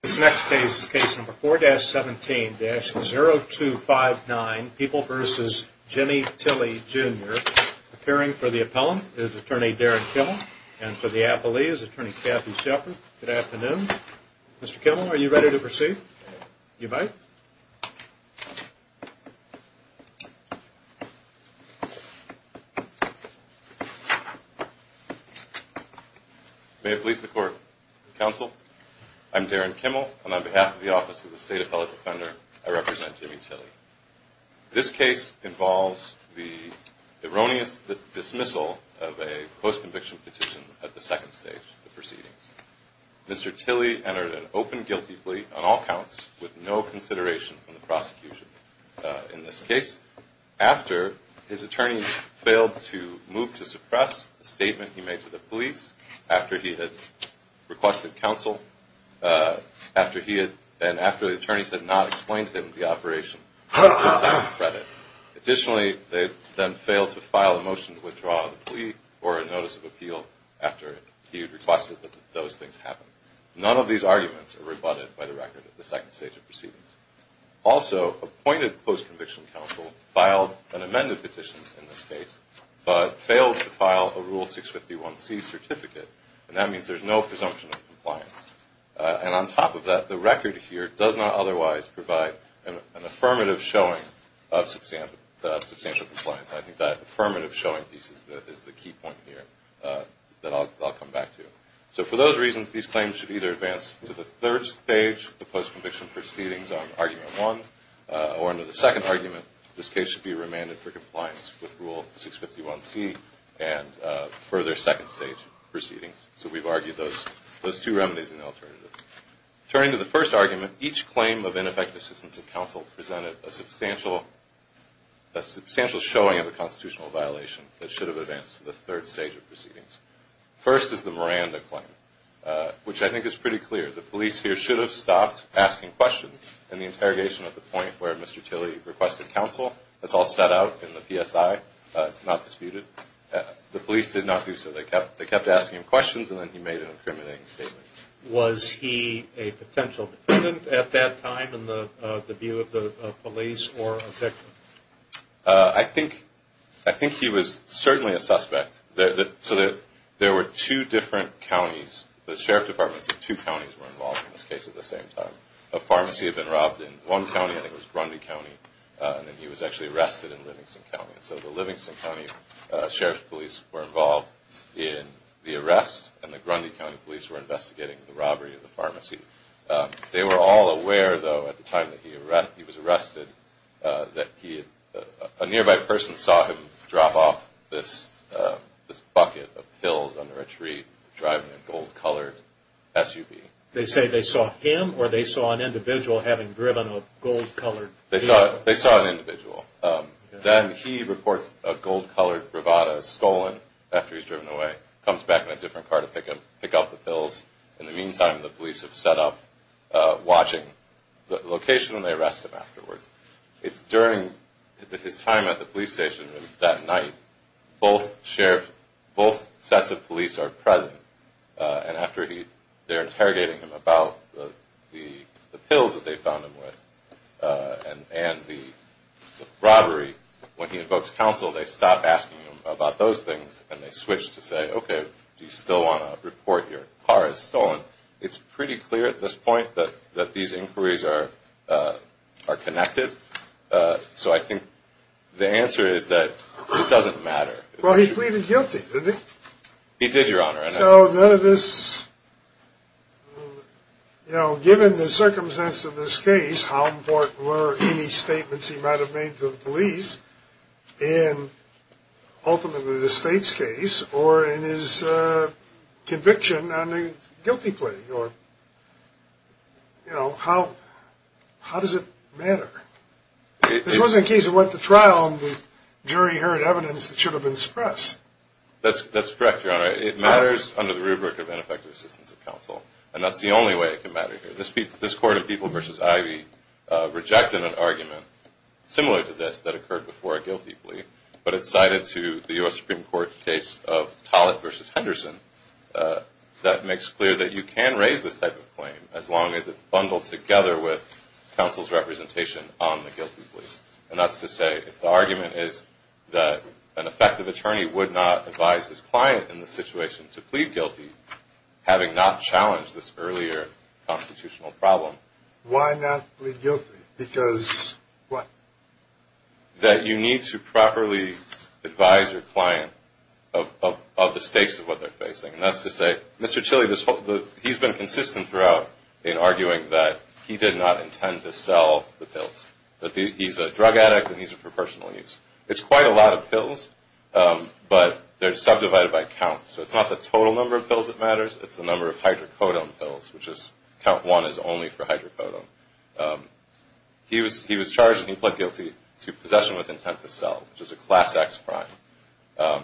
This next case is case number 4-17-0259, People v. Jimmy Tilley, Jr. Appearing for the appellant is attorney Darren Kimmel, and for the appellee is attorney Kathy Shepard. Good afternoon. Mr. Kimmel, are you ready to proceed? You might. May it please the court. Counsel, I'm Darren Kimmel, and on behalf of the Office of the State Appellate Defender, I represent Jimmy Tilley. This case involves the erroneous dismissal of a post-conviction petition at the second stage of the proceedings. Mr. Tilley entered an open guilty plea on all counts with no consideration from the prosecution. In this case, after his attorneys failed to move to suppress the statement he made to the police, after he had requested counsel, and after the attorneys had not explained to him the operation, Additionally, they then failed to file a motion to withdraw the plea or a notice of appeal after he had requested that those things happen. None of these arguments are rebutted by the record at the second stage of proceedings. Also, appointed post-conviction counsel filed an amended petition in this case, but failed to file a Rule 651C certificate, and that means there's no presumption of compliance. And on top of that, the record here does not otherwise provide an affirmative showing of substantial compliance. I think that affirmative showing piece is the key point here that I'll come back to. So for those reasons, these claims should either advance to the third stage of the post-conviction proceedings on argument one, or under the second argument, this case should be remanded for compliance with Rule 651C and further second stage proceedings. So we've argued those two remedies and alternatives. Turning to the first argument, each claim of ineffective assistance of counsel presented a substantial showing of a constitutional violation that should have advanced to the third stage of proceedings. First is the Miranda claim, which I think is pretty clear. The police here should have stopped asking questions in the interrogation at the point where Mr. Tilley requested counsel. That's all set out in the PSI. It's not disputed. The police did not do so. They kept asking him questions, and then he made an incriminating statement. Was he a potential defendant at that time in the view of the police or a victim? I think he was certainly a suspect. So there were two different counties. The Sheriff Department said two counties were involved in this case at the same time. A pharmacy had been robbed in one county, I think it was Brunby County, and then he was actually arrested in Livingston County. So the Livingston County Sheriff's Police were involved in the arrest, and the Brunby County Police were investigating the robbery of the pharmacy. They were all aware, though, at the time that he was arrested, that a nearby person saw him drop off this bucket of pills under a tree driving a gold-colored SUV. They say they saw him or they saw an individual having driven a gold-colored vehicle? They saw an individual. Then he reports a gold-colored bravado stolen after he's driven away, comes back in a different car to pick up the pills. In the meantime, the police have set up watching the location, and they arrest him afterwards. It's during his time at the police station that night both sets of police are present, and after they're interrogating him about the pills that they found him with and the robbery, when he invokes counsel, they stop asking him about those things, and they switch to say, okay, do you still want to report your car as stolen? It's pretty clear at this point that these inquiries are connected. So I think the answer is that it doesn't matter. Well, he's pleaded guilty, isn't he? He did, Your Honor. So none of this, you know, given the circumstance of this case, how important were any statements he might have made to the police in ultimately the state's case or in his conviction on a guilty plea, or, you know, how does it matter? This wasn't a case that went to trial and the jury heard evidence that should have been expressed. That's correct, Your Honor. It matters under the rubric of ineffective assistance of counsel, and that's the only way it can matter here. This Court of People v. Ivey rejected an argument similar to this that occurred before a guilty plea, but it cited to the U.S. Supreme Court case of Tollett v. Henderson that makes clear that you can raise this type of claim as long as it's bundled together with counsel's representation on the guilty plea. And that's to say if the argument is that an effective attorney would not advise his client in the situation to plead guilty, having not challenged this earlier constitutional problem. Why not plead guilty? Because what? That you need to properly advise your client of the stakes of what they're facing. And that's to say, Mr. Tilly, he's been consistent throughout in arguing that he did not intend to sell the pills, that he's a drug addict and he's for personal use. It's quite a lot of pills, but they're subdivided by count. So it's not the total number of pills that matters. It's the number of hydrocodone pills, which is count one is only for hydrocodone. He was charged and he pled guilty to possession with intent to sell, which is a Class X crime.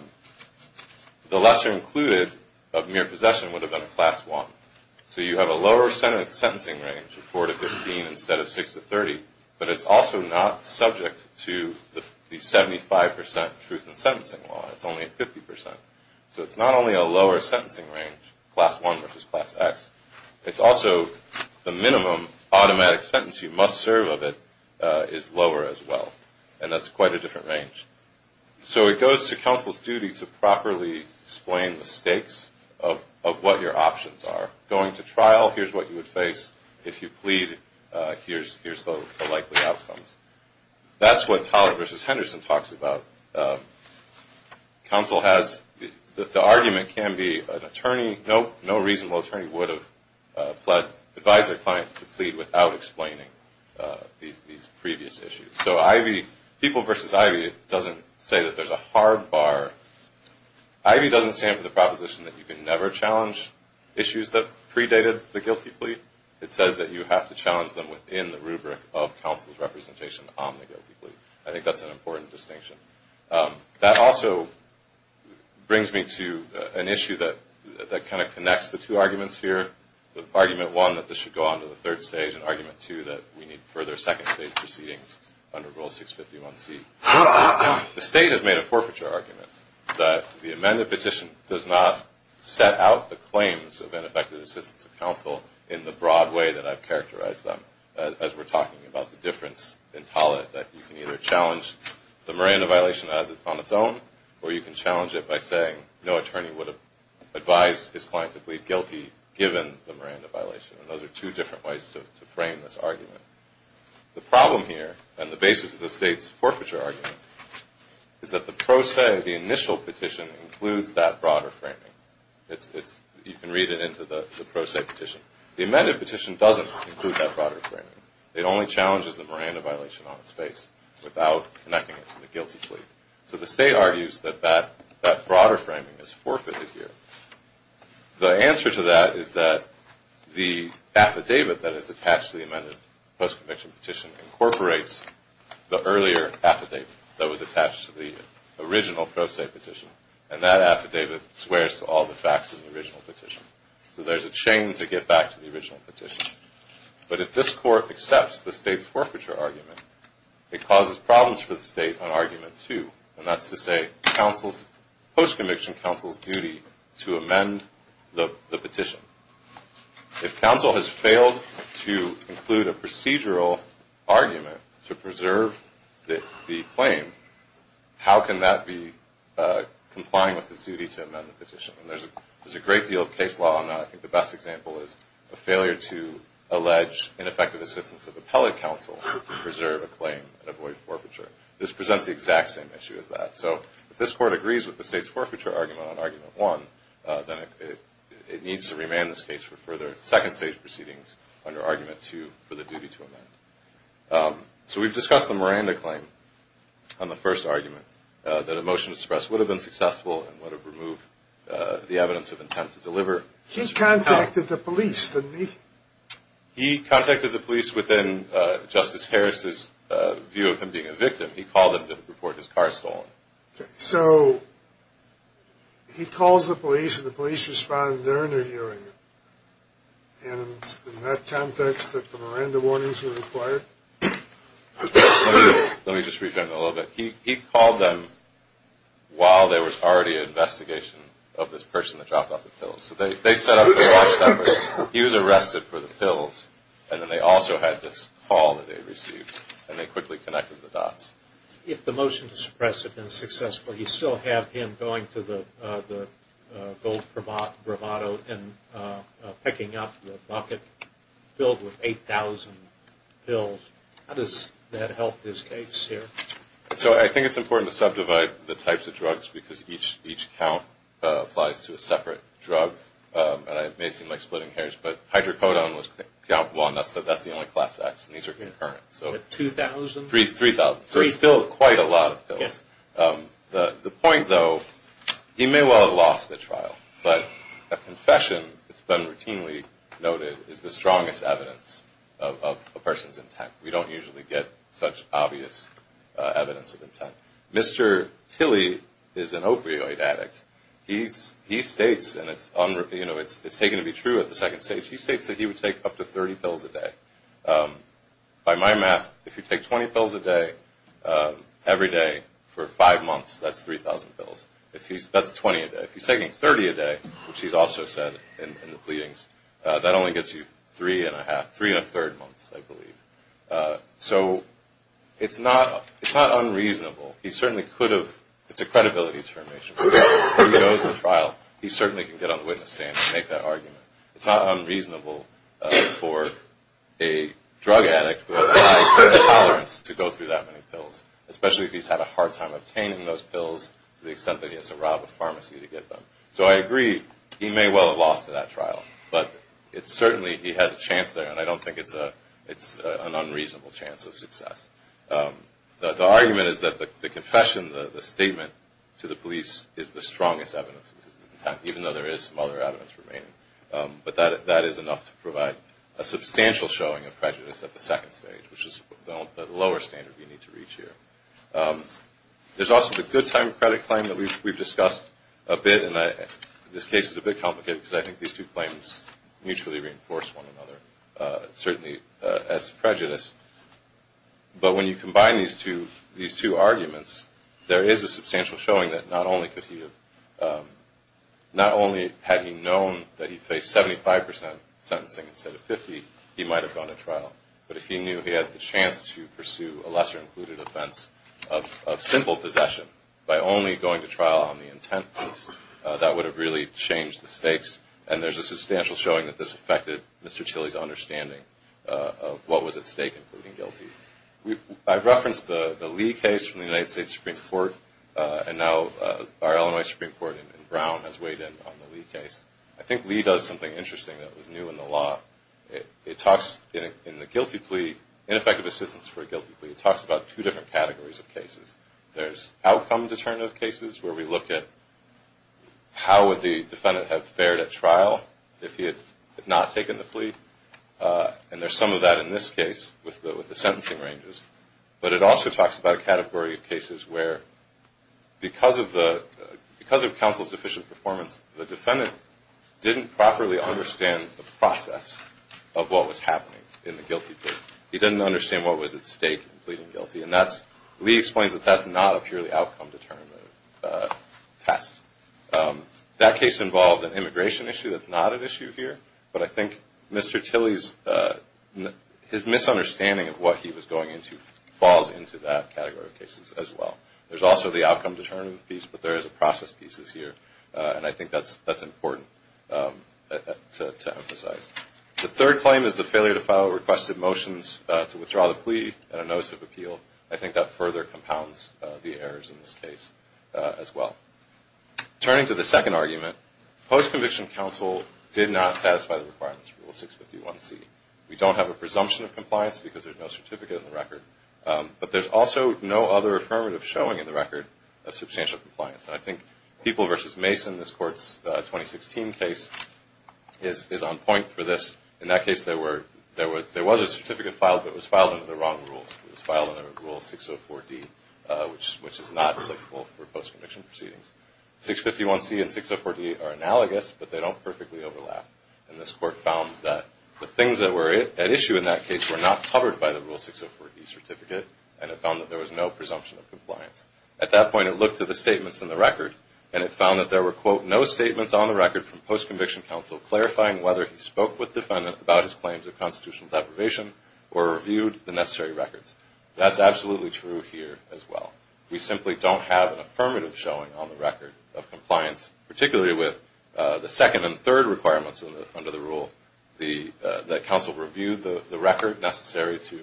The lesser included of mere possession would have been a Class I. So you have a lower sentencing range of four to 15 instead of six to 30, but it's also not subject to the 75% truth in sentencing law. It's only at 50%. So it's not only a lower sentencing range, Class I versus Class X, it's also the minimum automatic sentence you must serve of it is lower as well. And that's quite a different range. So it goes to counsel's duty to properly explain the stakes of what your options are. Going to trial, here's what you would face. If you plead, here's the likely outcomes. That's what Toller versus Henderson talks about. Counsel has the argument can be an attorney. Nope, no reasonable attorney would have advised a client to plead without explaining these previous issues. So Ivy, people versus Ivy, it doesn't say that there's a hard bar. Ivy doesn't stand for the proposition that you can never challenge issues that predated the guilty plea. It says that you have to challenge them within the rubric of counsel's representation on the guilty plea. I think that's an important distinction. That also brings me to an issue that kind of connects the two arguments here. Argument one, that this should go on to the third stage, and argument two, that we need further second-stage proceedings under Rule 651C. The State has made a forfeiture argument that the amended petition does not set out the claims of ineffective assistance of counsel in the broad way that I've characterized them, as we're talking about the difference in Toller, that you can either challenge the Miranda violation as it's on its own, or you can challenge it by saying no attorney would have advised his client to plead guilty given the Miranda violation. And those are two different ways to frame this argument. The problem here, and the basis of the State's forfeiture argument, is that the pro se, the initial petition, includes that broader framing. You can read it into the pro se petition. The amended petition doesn't include that broader framing. It only challenges the Miranda violation on its face without connecting it to the guilty plea. So the State argues that that broader framing is forfeited here. The answer to that is that the affidavit that is attached to the amended post-conviction petition incorporates the earlier affidavit that was attached to the original pro se petition, and that affidavit swears to all the facts of the original petition. So there's a chain to get back to the original petition. But if this court accepts the State's forfeiture argument, it causes problems for the State on argument two, and that's to say the post-conviction counsel's duty to amend the petition. If counsel has failed to include a procedural argument to preserve the claim, how can that be complying with his duty to amend the petition? And there's a great deal of case law on that. I think the best example is a failure to allege ineffective assistance of appellate counsel to preserve a claim and avoid forfeiture. This presents the exact same issue as that. So if this court agrees with the State's forfeiture argument on argument one, then it needs to remand this case for further second stage proceedings under argument two for the duty to amend. So we've discussed the Miranda claim on the first argument, that a motion to suppress would have been successful and would have removed the evidence of intent to deliver. He contacted the police, didn't he? He contacted the police within Justice Harris's view of him being a victim. He called them to report his car stolen. So he calls the police, and the police respond during their hearing. And in that context, the Miranda warnings are required? Let me just rephrase that a little bit. He called them while there was already an investigation of this person that dropped off the pills. So they set up the last number. He was arrested for the pills. And then they also had this call that they received, and they quickly connected the dots. If the motion to suppress had been successful, you still have him going to the gold bravado and picking up the bucket filled with 8,000 pills. How does that help his case here? So I think it's important to subdivide the types of drugs because each count applies to a separate drug. And it may seem like splitting hairs, but hydrocodone was countable, and that's the only class X. And these are concurrent. 2,000? 3,000. So it's still quite a lot of pills. The point, though, he may well have lost the trial, but a confession that's been routinely noted is the strongest evidence of a person's intent. We don't usually get such obvious evidence of intent. Mr. Tilly is an opioid addict. He states, and it's taken to be true at the second stage, he states that he would take up to 30 pills a day. By my math, if you take 20 pills a day every day for five months, that's 3,000 pills. That's 20 a day. If he's taking 30 a day, which he's also said in the pleadings, that only gets you three and a third months, I believe. So it's not unreasonable. He certainly could have – it's a credibility determination. If he goes to trial, he certainly can get on the witness stand and make that argument. It's not unreasonable for a drug addict who has high tolerance to go through that many pills, So I agree he may well have lost that trial, but it's certainly – he has a chance there, and I don't think it's an unreasonable chance of success. The argument is that the confession, the statement to the police is the strongest evidence of intent, even though there is some other evidence remaining. But that is enough to provide a substantial showing of prejudice at the second stage, which is the lower standard we need to reach here. There's also the good time credit claim that we've discussed a bit, and this case is a bit complicated because I think these two claims mutually reinforce one another, certainly as prejudice. But when you combine these two arguments, there is a substantial showing that not only could he have – not only had he known that he faced 75 percent sentencing instead of 50, he might have gone to trial, but if he knew he had the chance to pursue a lesser-included offense of simple possession by only going to trial on the intent piece, that would have really changed the stakes. And there's a substantial showing that this affected Mr. Chilly's understanding of what was at stake, including guilty. I referenced the Lee case from the United States Supreme Court, and now our Illinois Supreme Court in Brown has weighed in on the Lee case. I think Lee does something interesting that was new in the law. It talks in the guilty plea, ineffective assistance for a guilty plea, it talks about two different categories of cases. There's outcome-determinative cases where we look at how would the defendant have fared at trial if he had not taken the plea, and there's some of that in this case with the sentencing ranges. But it also talks about a category of cases where because of counsel's efficient performance, the defendant didn't properly understand the process of what was happening in the guilty plea. He didn't understand what was at stake in pleading guilty, and Lee explains that that's not a purely outcome-determinative test. That case involved an immigration issue that's not an issue here, but I think Mr. Chilly's misunderstanding of what he was going into falls into that category of cases as well. There's also the outcome-determinative piece, but there is a process piece here, and I think that's important to emphasize. The third claim is the failure to file requested motions to withdraw the plea at a notice of appeal. I think that further compounds the errors in this case as well. Turning to the second argument, post-conviction counsel did not satisfy the requirements of Rule 651C. We don't have a presumption of compliance because there's no certificate in the record, but there's also no other affirmative showing in the record of substantial compliance. And I think People v. Mason, this Court's 2016 case, is on point for this. In that case, there was a certificate filed, but it was filed under the wrong rules. It was filed under Rule 604D, which is not applicable for post-conviction proceedings. 651C and 604D are analogous, but they don't perfectly overlap. And this Court found that the things that were at issue in that case were not covered by the Rule 604D certificate, At that point, it looked at the statements in the record, and it found that there were, quote, no statements on the record from post-conviction counsel clarifying whether he spoke with the defendant about his claims of constitutional deprivation or reviewed the necessary records. That's absolutely true here as well. We simply don't have an affirmative showing on the record of compliance, particularly with the second and third requirements under the rule, that counsel reviewed the record necessary to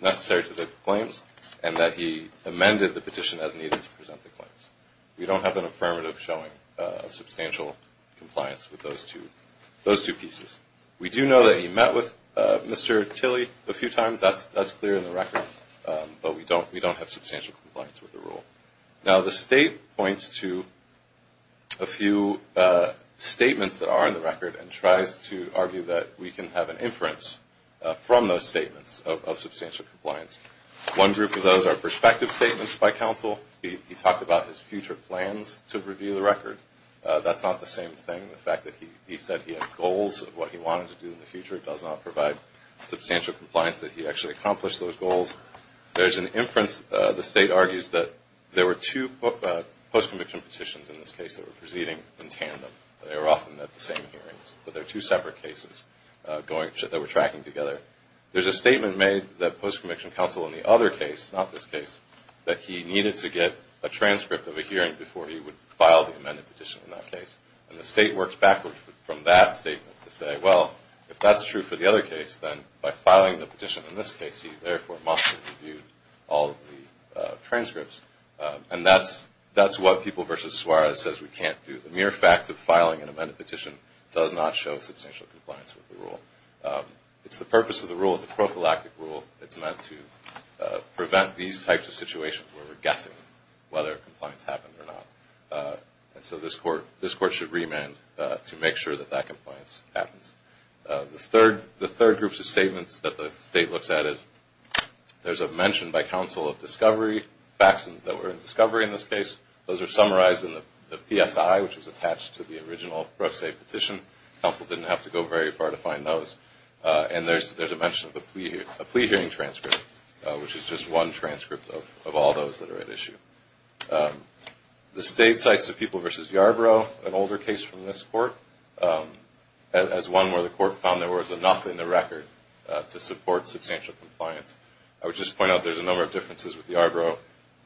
the claims and that he amended the petition as needed to present the claims. We don't have an affirmative showing of substantial compliance with those two pieces. We do know that he met with Mr. Tilley a few times. That's clear in the record, but we don't have substantial compliance with the rule. Now, the State points to a few statements that are in the record and tries to argue that we can have an inference from those statements of substantial compliance. One group of those are perspective statements by counsel. He talked about his future plans to review the record. That's not the same thing. The fact that he said he had goals of what he wanted to do in the future does not provide substantial compliance that he actually accomplished those goals. There's an inference, the State argues, that there were two post-conviction petitions in this case that were proceeding in tandem. They were often at the same hearings, but they're two separate cases that were tracking together. There's a statement made that post-conviction counsel in the other case, not this case, that he needed to get a transcript of a hearing before he would file the amended petition in that case. And the State works backwards from that statement to say, well, if that's true for the other case, then by filing the petition in this case, he therefore must have reviewed all of the transcripts. And that's what People v. Suarez says we can't do. The mere fact of filing an amended petition does not show substantial compliance with the rule. It's the purpose of the rule. It's a prophylactic rule. It's meant to prevent these types of situations where we're guessing whether compliance happened or not. And so this Court should remand to make sure that that compliance happens. The third group of statements that the State looks at is there's a mention by counsel of discovery, facts that were in discovery in this case. Those are summarized in the PSI, which was attached to the original Pro Se petition. Counsel didn't have to go very far to find those. And there's a mention of a plea hearing transcript, which is just one transcript of all those that are at issue. The State cites the People v. Yarbrough, an older case from this Court, as one where the Court found there was enough in the record to support substantial compliance. I would just point out there's a number of differences with Yarbrough.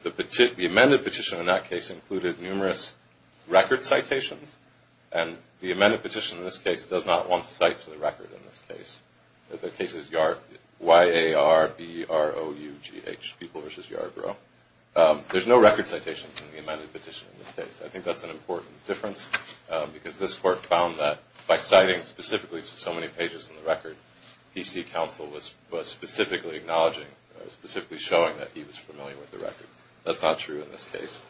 The amended petition in that case included numerous record citations, and the amended petition in this case does not want to cite to the record in this case. The case is Y-A-R-B-R-O-U-G-H, People v. Yarbrough. There's no record citations in the amended petition in this case. I think that's an important difference because this Court found that by citing specifically to so many pages in the record, PC counsel was specifically showing that he was familiar with the record. That's not true in this case.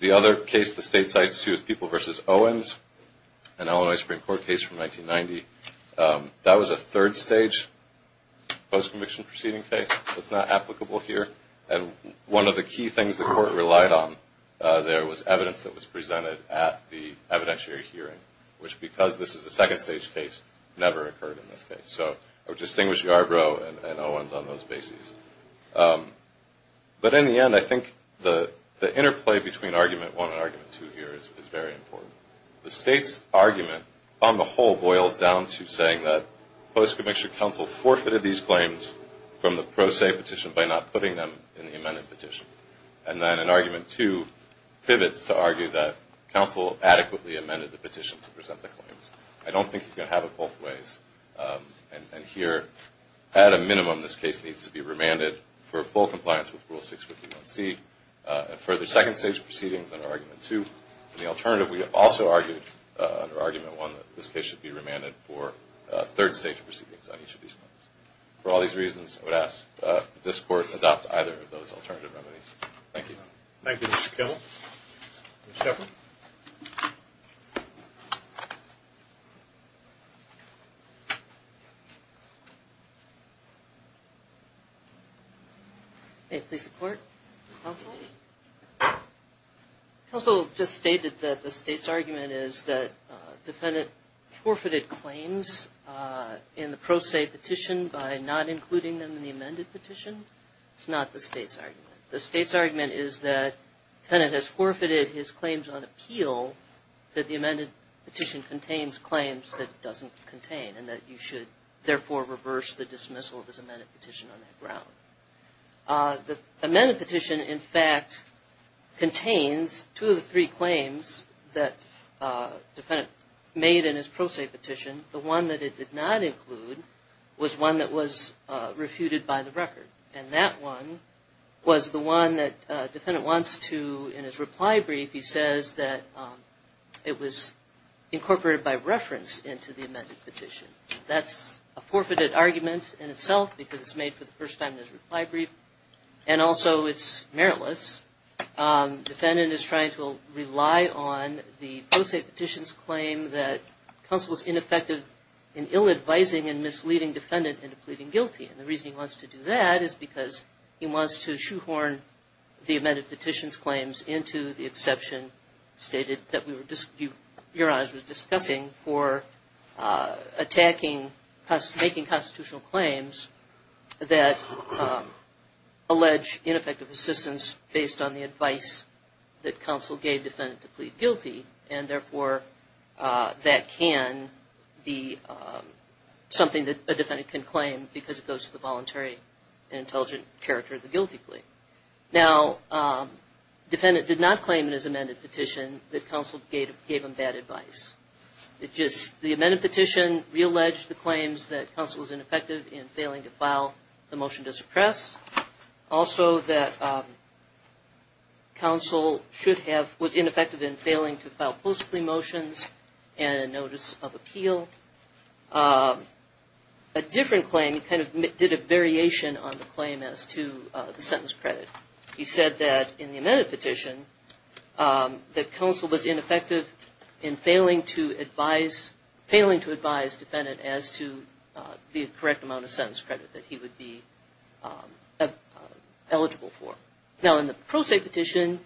The other case the State cites, too, is People v. Owens, an Illinois Supreme Court case from 1990. That was a third-stage post-conviction proceeding case. That's not applicable here. And one of the key things the Court relied on there was evidence that was presented at the evidentiary hearing, which because this is a second-stage case, never occurred in this case. So I would distinguish Yarbrough and Owens on those bases. But in the end, I think the interplay between Argument 1 and Argument 2 here is very important. The State's argument, on the whole, boils down to saying that post-conviction counsel forfeited these claims from the pro se petition by not putting them in the amended petition. And then in Argument 2, pivots to argue that counsel adequately amended the petition to present the claims. I don't think you can have it both ways. And here, at a minimum, this case needs to be remanded for full compliance with Rule 651C and further second-stage proceedings under Argument 2. And the alternative, we have also argued, under Argument 1, that this case should be remanded for third-stage proceedings on each of these claims. For all these reasons, I would ask that this Court adopt either of those alternative remedies. Thank you. Thank you, Mr. Kendall. Ms. Shepard? May it please the Court? Counsel? Counsel just stated that the State's argument is that defendant forfeited claims in the pro se petition by not including them in the amended petition. It's not the State's argument. The State's argument is that defendant has forfeited his claims on appeal that the amended petition contains claims that it doesn't contain and that you should, therefore, reverse the dismissal of his amended petition on that ground. The amended petition, in fact, contains two of the three claims that defendant made in his pro se petition. The one that it did not include was one that was refuted by the record. And that one was the one that defendant wants to, in his reply brief, he says that it was incorporated by reference into the amended petition. That's a forfeited argument in itself because it's made for the first time in his reply brief. And also, it's meritless. Defendant is trying to rely on the pro se petition's claim that counsel is ineffective in ill-advising and misleading defendant into pleading guilty. And the reason he wants to do that is because he wants to shoehorn the amended petition's claims into the exception stated that Your Honors was discussing for attacking making constitutional claims that allege ineffective assistance based on the advice that counsel gave defendant to plead guilty. And therefore, that can be something that a defendant can claim because it goes to the voluntary and intelligent character of the guilty plea. Now, defendant did not claim in his amended petition that counsel gave him bad advice. The amended petition realleged the claims that counsel was ineffective in failing to file the motion to suppress. Also, that counsel was ineffective in failing to file post-plea motions and a notice of appeal. A different claim, he kind of did a variation on the claim as to the sentence credit. He said that in the amended petition, that counsel was ineffective in failing to advise defendant as to the correct amount of sentence credit that he would be eligible for. Now, in the pro se petition,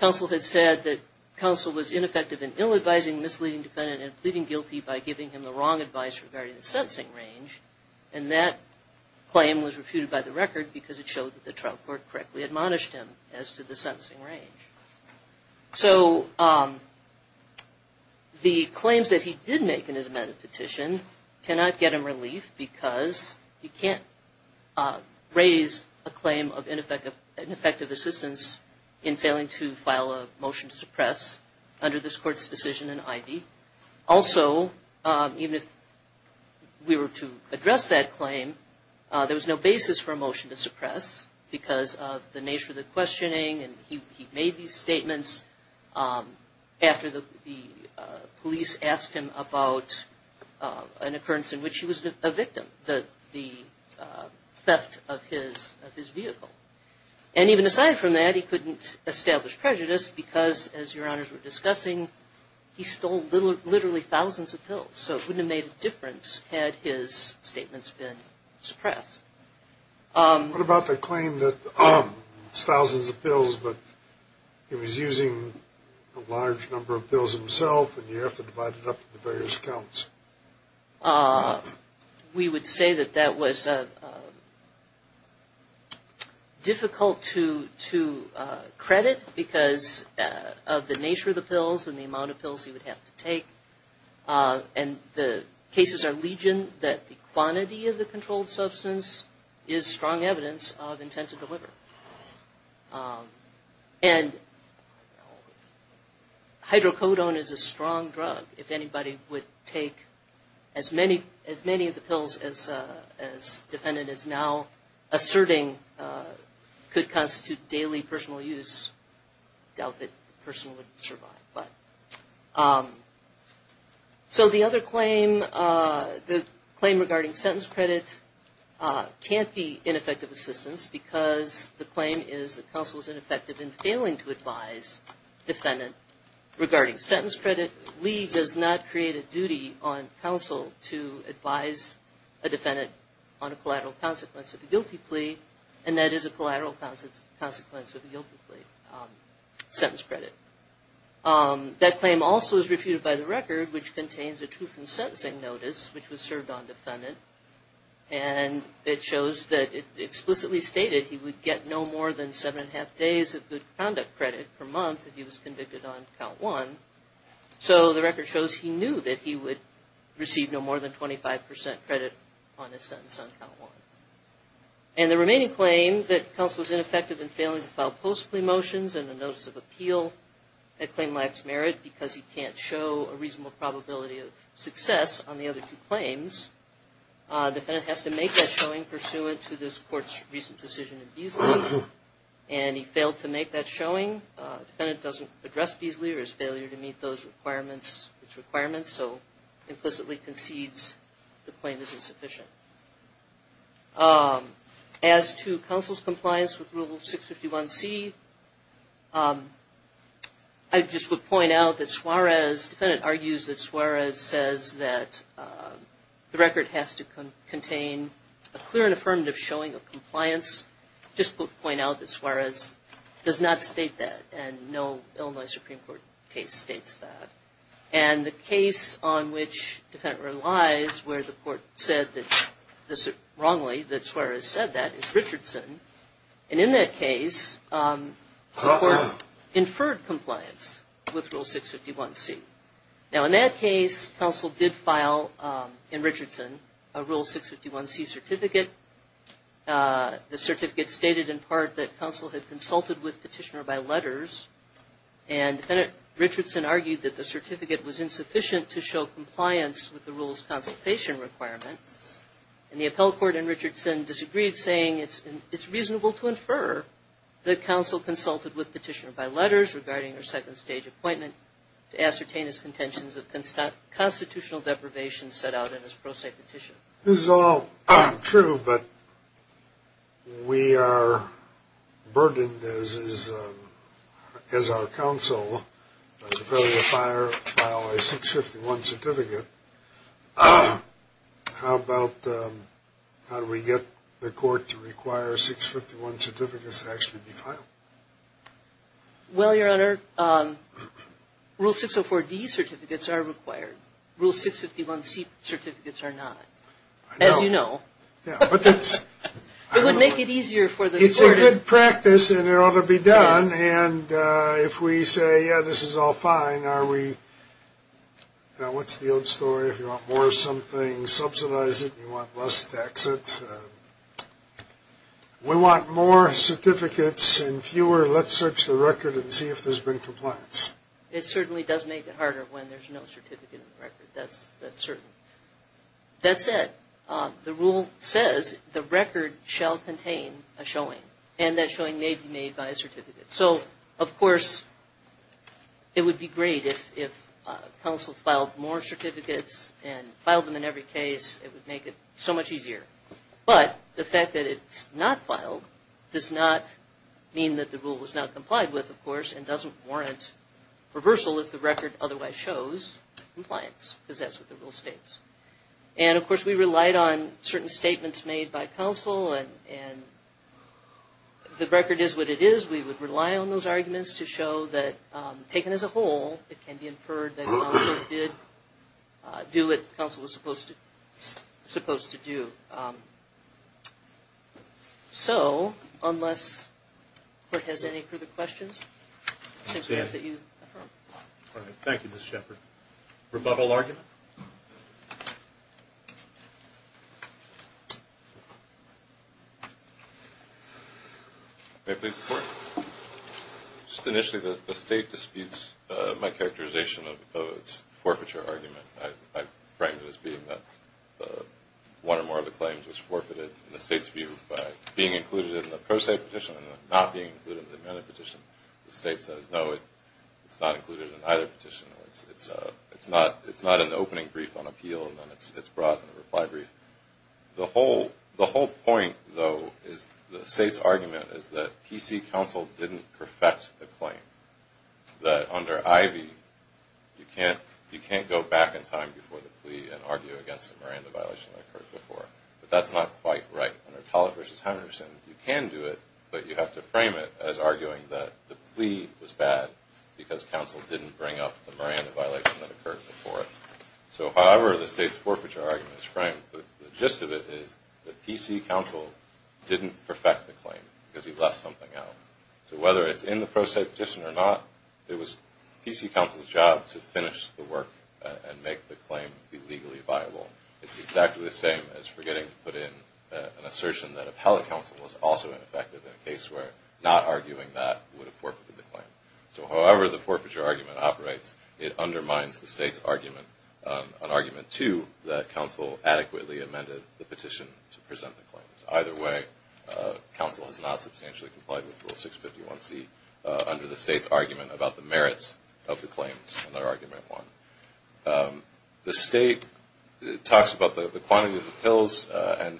counsel had said that counsel was ineffective in ill-advising misleading defendant and pleading guilty by giving him the wrong advice regarding the sentencing range. And that claim was refuted by the record because it showed that the trial court correctly admonished him as to the sentencing range. So, the claims that he did make in his amended petition cannot get him relief because he can't raise a claim of ineffective assistance in failing to file a motion to suppress under this court's decision in Ivey. Also, even if we were to address that claim, there was no basis for a motion to suppress because of the nature of the questioning. And he made these statements after the police asked him about an occurrence in which he was a victim, the theft of his vehicle. And even aside from that, he couldn't establish prejudice because, as Your Honors were discussing, he stole literally thousands of pills. So it wouldn't have made a difference had his statements been suppressed. What about the claim that it's thousands of pills, but he was using a large number of pills himself and you have to divide it up into various counts? We would say that that was difficult to credit because of the nature of the pills and the amount of pills he would have to take. And the cases are legion that the quantity of the controlled substance is strong evidence of intent to deliver. And hydrocodone is a strong drug. If anybody would take as many of the pills as defendant is now asserting could constitute daily personal use, doubt that the person would survive. So the other claim, the claim regarding sentence credit, can't be ineffective assistance because the claim is that counsel is ineffective in failing to advise defendant regarding sentence credit. Lee does not create a duty on counsel to advise a defendant on a collateral consequence of a guilty plea, and that is a collateral consequence of a guilty plea, sentence credit. That claim also is refuted by the record, which contains a truth in sentencing notice, which was served on defendant. And it shows that it explicitly stated he would get no more than seven and a half days of good conduct credit per month if he was convicted on count one. So the record shows he knew that he would receive no more than 25% credit on his sentence on count one. And the remaining claim, that counsel is ineffective in failing to file post plea motions and a notice of appeal, that claim lacks merit because he can't show a reasonable probability of success on the other two claims. Defendant has to make that showing pursuant to this court's recent decision in Beasley, and he failed to make that showing. Defendant doesn't address Beasley or his failure to meet those requirements, so implicitly concedes the claim is insufficient. As to counsel's compliance with Rule 651C, I just would point out that Suarez, defendant argues that Suarez says that the record has to contain a clear and affirmative showing of compliance. I just would point out that Suarez does not state that, and no Illinois Supreme Court case states that. And the case on which defendant relies where the court said wrongly that Suarez said that is Richardson. And in that case, the court inferred compliance with Rule 651C. Now, in that case, counsel did file in Richardson a Rule 651C certificate. The certificate stated in part that counsel had consulted with petitioner by letters, and defendant Richardson argued that the certificate was insufficient to show compliance with the rule's consultation requirement. And the appellate court in Richardson disagreed, saying it's reasonable to infer that counsel consulted with petitioner by letters regarding their second-stage appointment to ascertain his contentions of constitutional deprivation set out in his pro se petition. This is all true, but we are burdened as our counsel by the failure to file a 651 certificate. How about how do we get the court to require a 651 certificate to actually be filed? Well, Your Honor, Rule 604D certificates are required. Rule 651C certificates are not. I know. As you know. It would make it easier for the court. It's a good practice, and it ought to be done. And if we say, yeah, this is all fine, are we, you know, what's the old story? If you want more of something, subsidize it. If you want less, tax it. If we want more certificates and fewer, let's search the record and see if there's been compliance. It certainly does make it harder when there's no certificate in the record. That's certain. That said, the rule says the record shall contain a showing, and that showing may be made by a certificate. So, of course, it would be great if counsel filed more certificates and filed them in every case. It would make it so much easier. But the fact that it's not filed does not mean that the rule was not complied with, of course, and doesn't warrant reversal if the record otherwise shows compliance, because that's what the rule states. And, of course, we relied on certain statements made by counsel, and if the record is what it is, we would rely on those arguments to show that, taken as a whole, it can be inferred that counsel did do what counsel was supposed to do. So, unless the Court has any further questions, I suggest that you affirm. Thank you, Ms. Shepard. Rebuttal argument? May I please report? Just initially, the State disputes my characterization of its forfeiture argument. I framed it as being that one or more of the claims was forfeited in the State's view by being included in the pro se petition and not being included in the amended petition. The State says, no, it's not included in either petition. It's not an opening brief on appeal, and then it's brought in a reply brief. The whole point, though, is the State's argument is that PC counsel didn't perfect the claim, that under Ivey, you can't go back in time before the plea and argue against a Miranda violation that occurred before. But that's not quite right. Under Tulloch v. Henderson, you can do it, but you have to frame it as arguing that the plea was bad because counsel didn't bring up the Miranda violation that occurred before it. So however the State's forfeiture argument is framed, the gist of it is that PC counsel didn't perfect the claim because he left something out. So whether it's in the pro se petition or not, it was PC counsel's job to finish the work and make the claim legally viable. It's exactly the same as forgetting to put in an assertion that appellate counsel was also ineffective in a case where not arguing that would have forfeited the claim. So however the forfeiture argument operates, it undermines the State's argument, an argument, too, that counsel adequately amended the petition to present the claims. Either way, counsel has not substantially complied with Rule 651C under the State's argument about the merits of the claims under Argument 1. The State talks about the quantity of the pills, and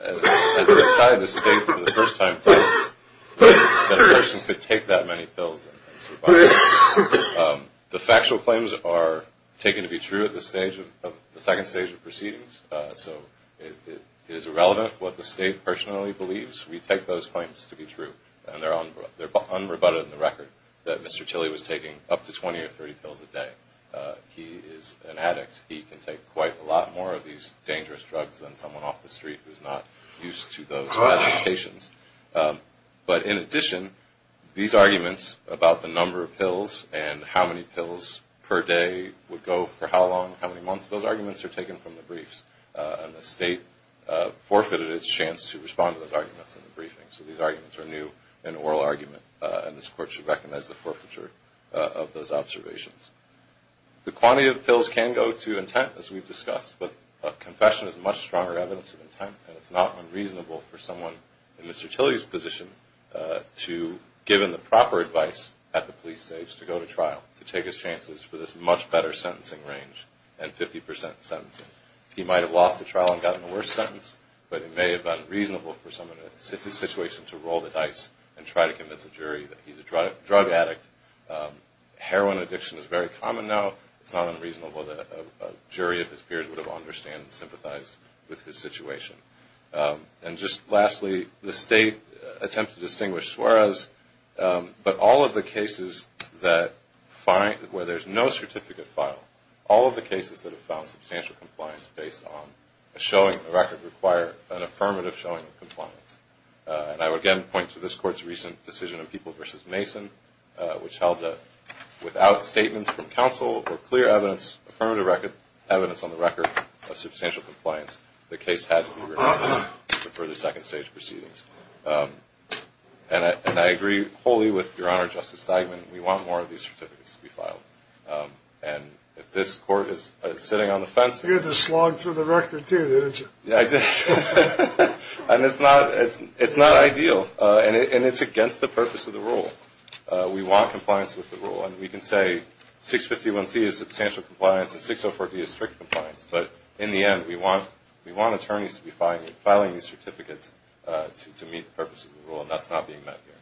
as an aside, the State, for the first time, claims that a person could take that many pills and survive. The factual claims are taken to be true at the second stage of proceedings, so it is irrelevant what the State personally believes. We take those claims to be true, and they're unrebutted in the record, that Mr. Tilley was taking up to 20 or 30 pills a day. He is an addict. He can take quite a lot more of these dangerous drugs than someone off the street who's not used to those medications. But in addition, these arguments about the number of pills and how many pills per day would go for how long, how many months, those arguments are taken from the briefs, and the State forfeited its chance to respond to those arguments in the briefing. So these arguments are new in oral argument, and this Court should recognize the forfeiture of those observations. The quantity of the pills can go to intent, as we've discussed, but a confession is much stronger evidence of intent, and it's not unreasonable for someone in Mr. Tilley's position to, given the proper advice at the police stage, to go to trial to take his chances for this much better sentencing range and 50 percent sentencing. He might have lost the trial and gotten the worst sentence, but it may have been reasonable for someone in his situation to roll the dice and try to convince a jury that he's a drug addict. Heroin addiction is very common now. It's not unreasonable that a jury of his period would have understood and sympathized with his situation. And just lastly, the State attempts to distinguish Suarez, but all of the cases where there's no certificate file, all of the cases that have found substantial compliance based on a showing of the record require an affirmative showing of compliance. And I would again point to this Court's recent decision of People v. Mason, which held that without statements from counsel or clear evidence, affirmative evidence on the record of substantial compliance, the case had to be revoked for further second-stage proceedings. And I agree wholly with Your Honor, Justice Steigman, we want more of these certificates to be filed. And if this Court is sitting on the fence... You had to slog through the record, too, didn't you? Yeah, I did. And it's not ideal, and it's against the purpose of the rule. We want compliance with the rule. And we can say 651C is substantial compliance and 604D is strict compliance, but in the end we want attorneys to be filing these certificates to meet the purpose of the rule, and that's not being met here.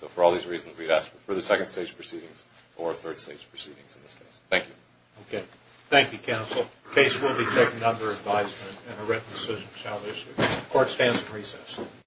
So for all these reasons, we'd ask for further second-stage proceedings or third-stage proceedings in this case. Thank you. Okay. Thank you, counsel. The case will be taken under advisement and a written decision shall issue. Court stands at recess.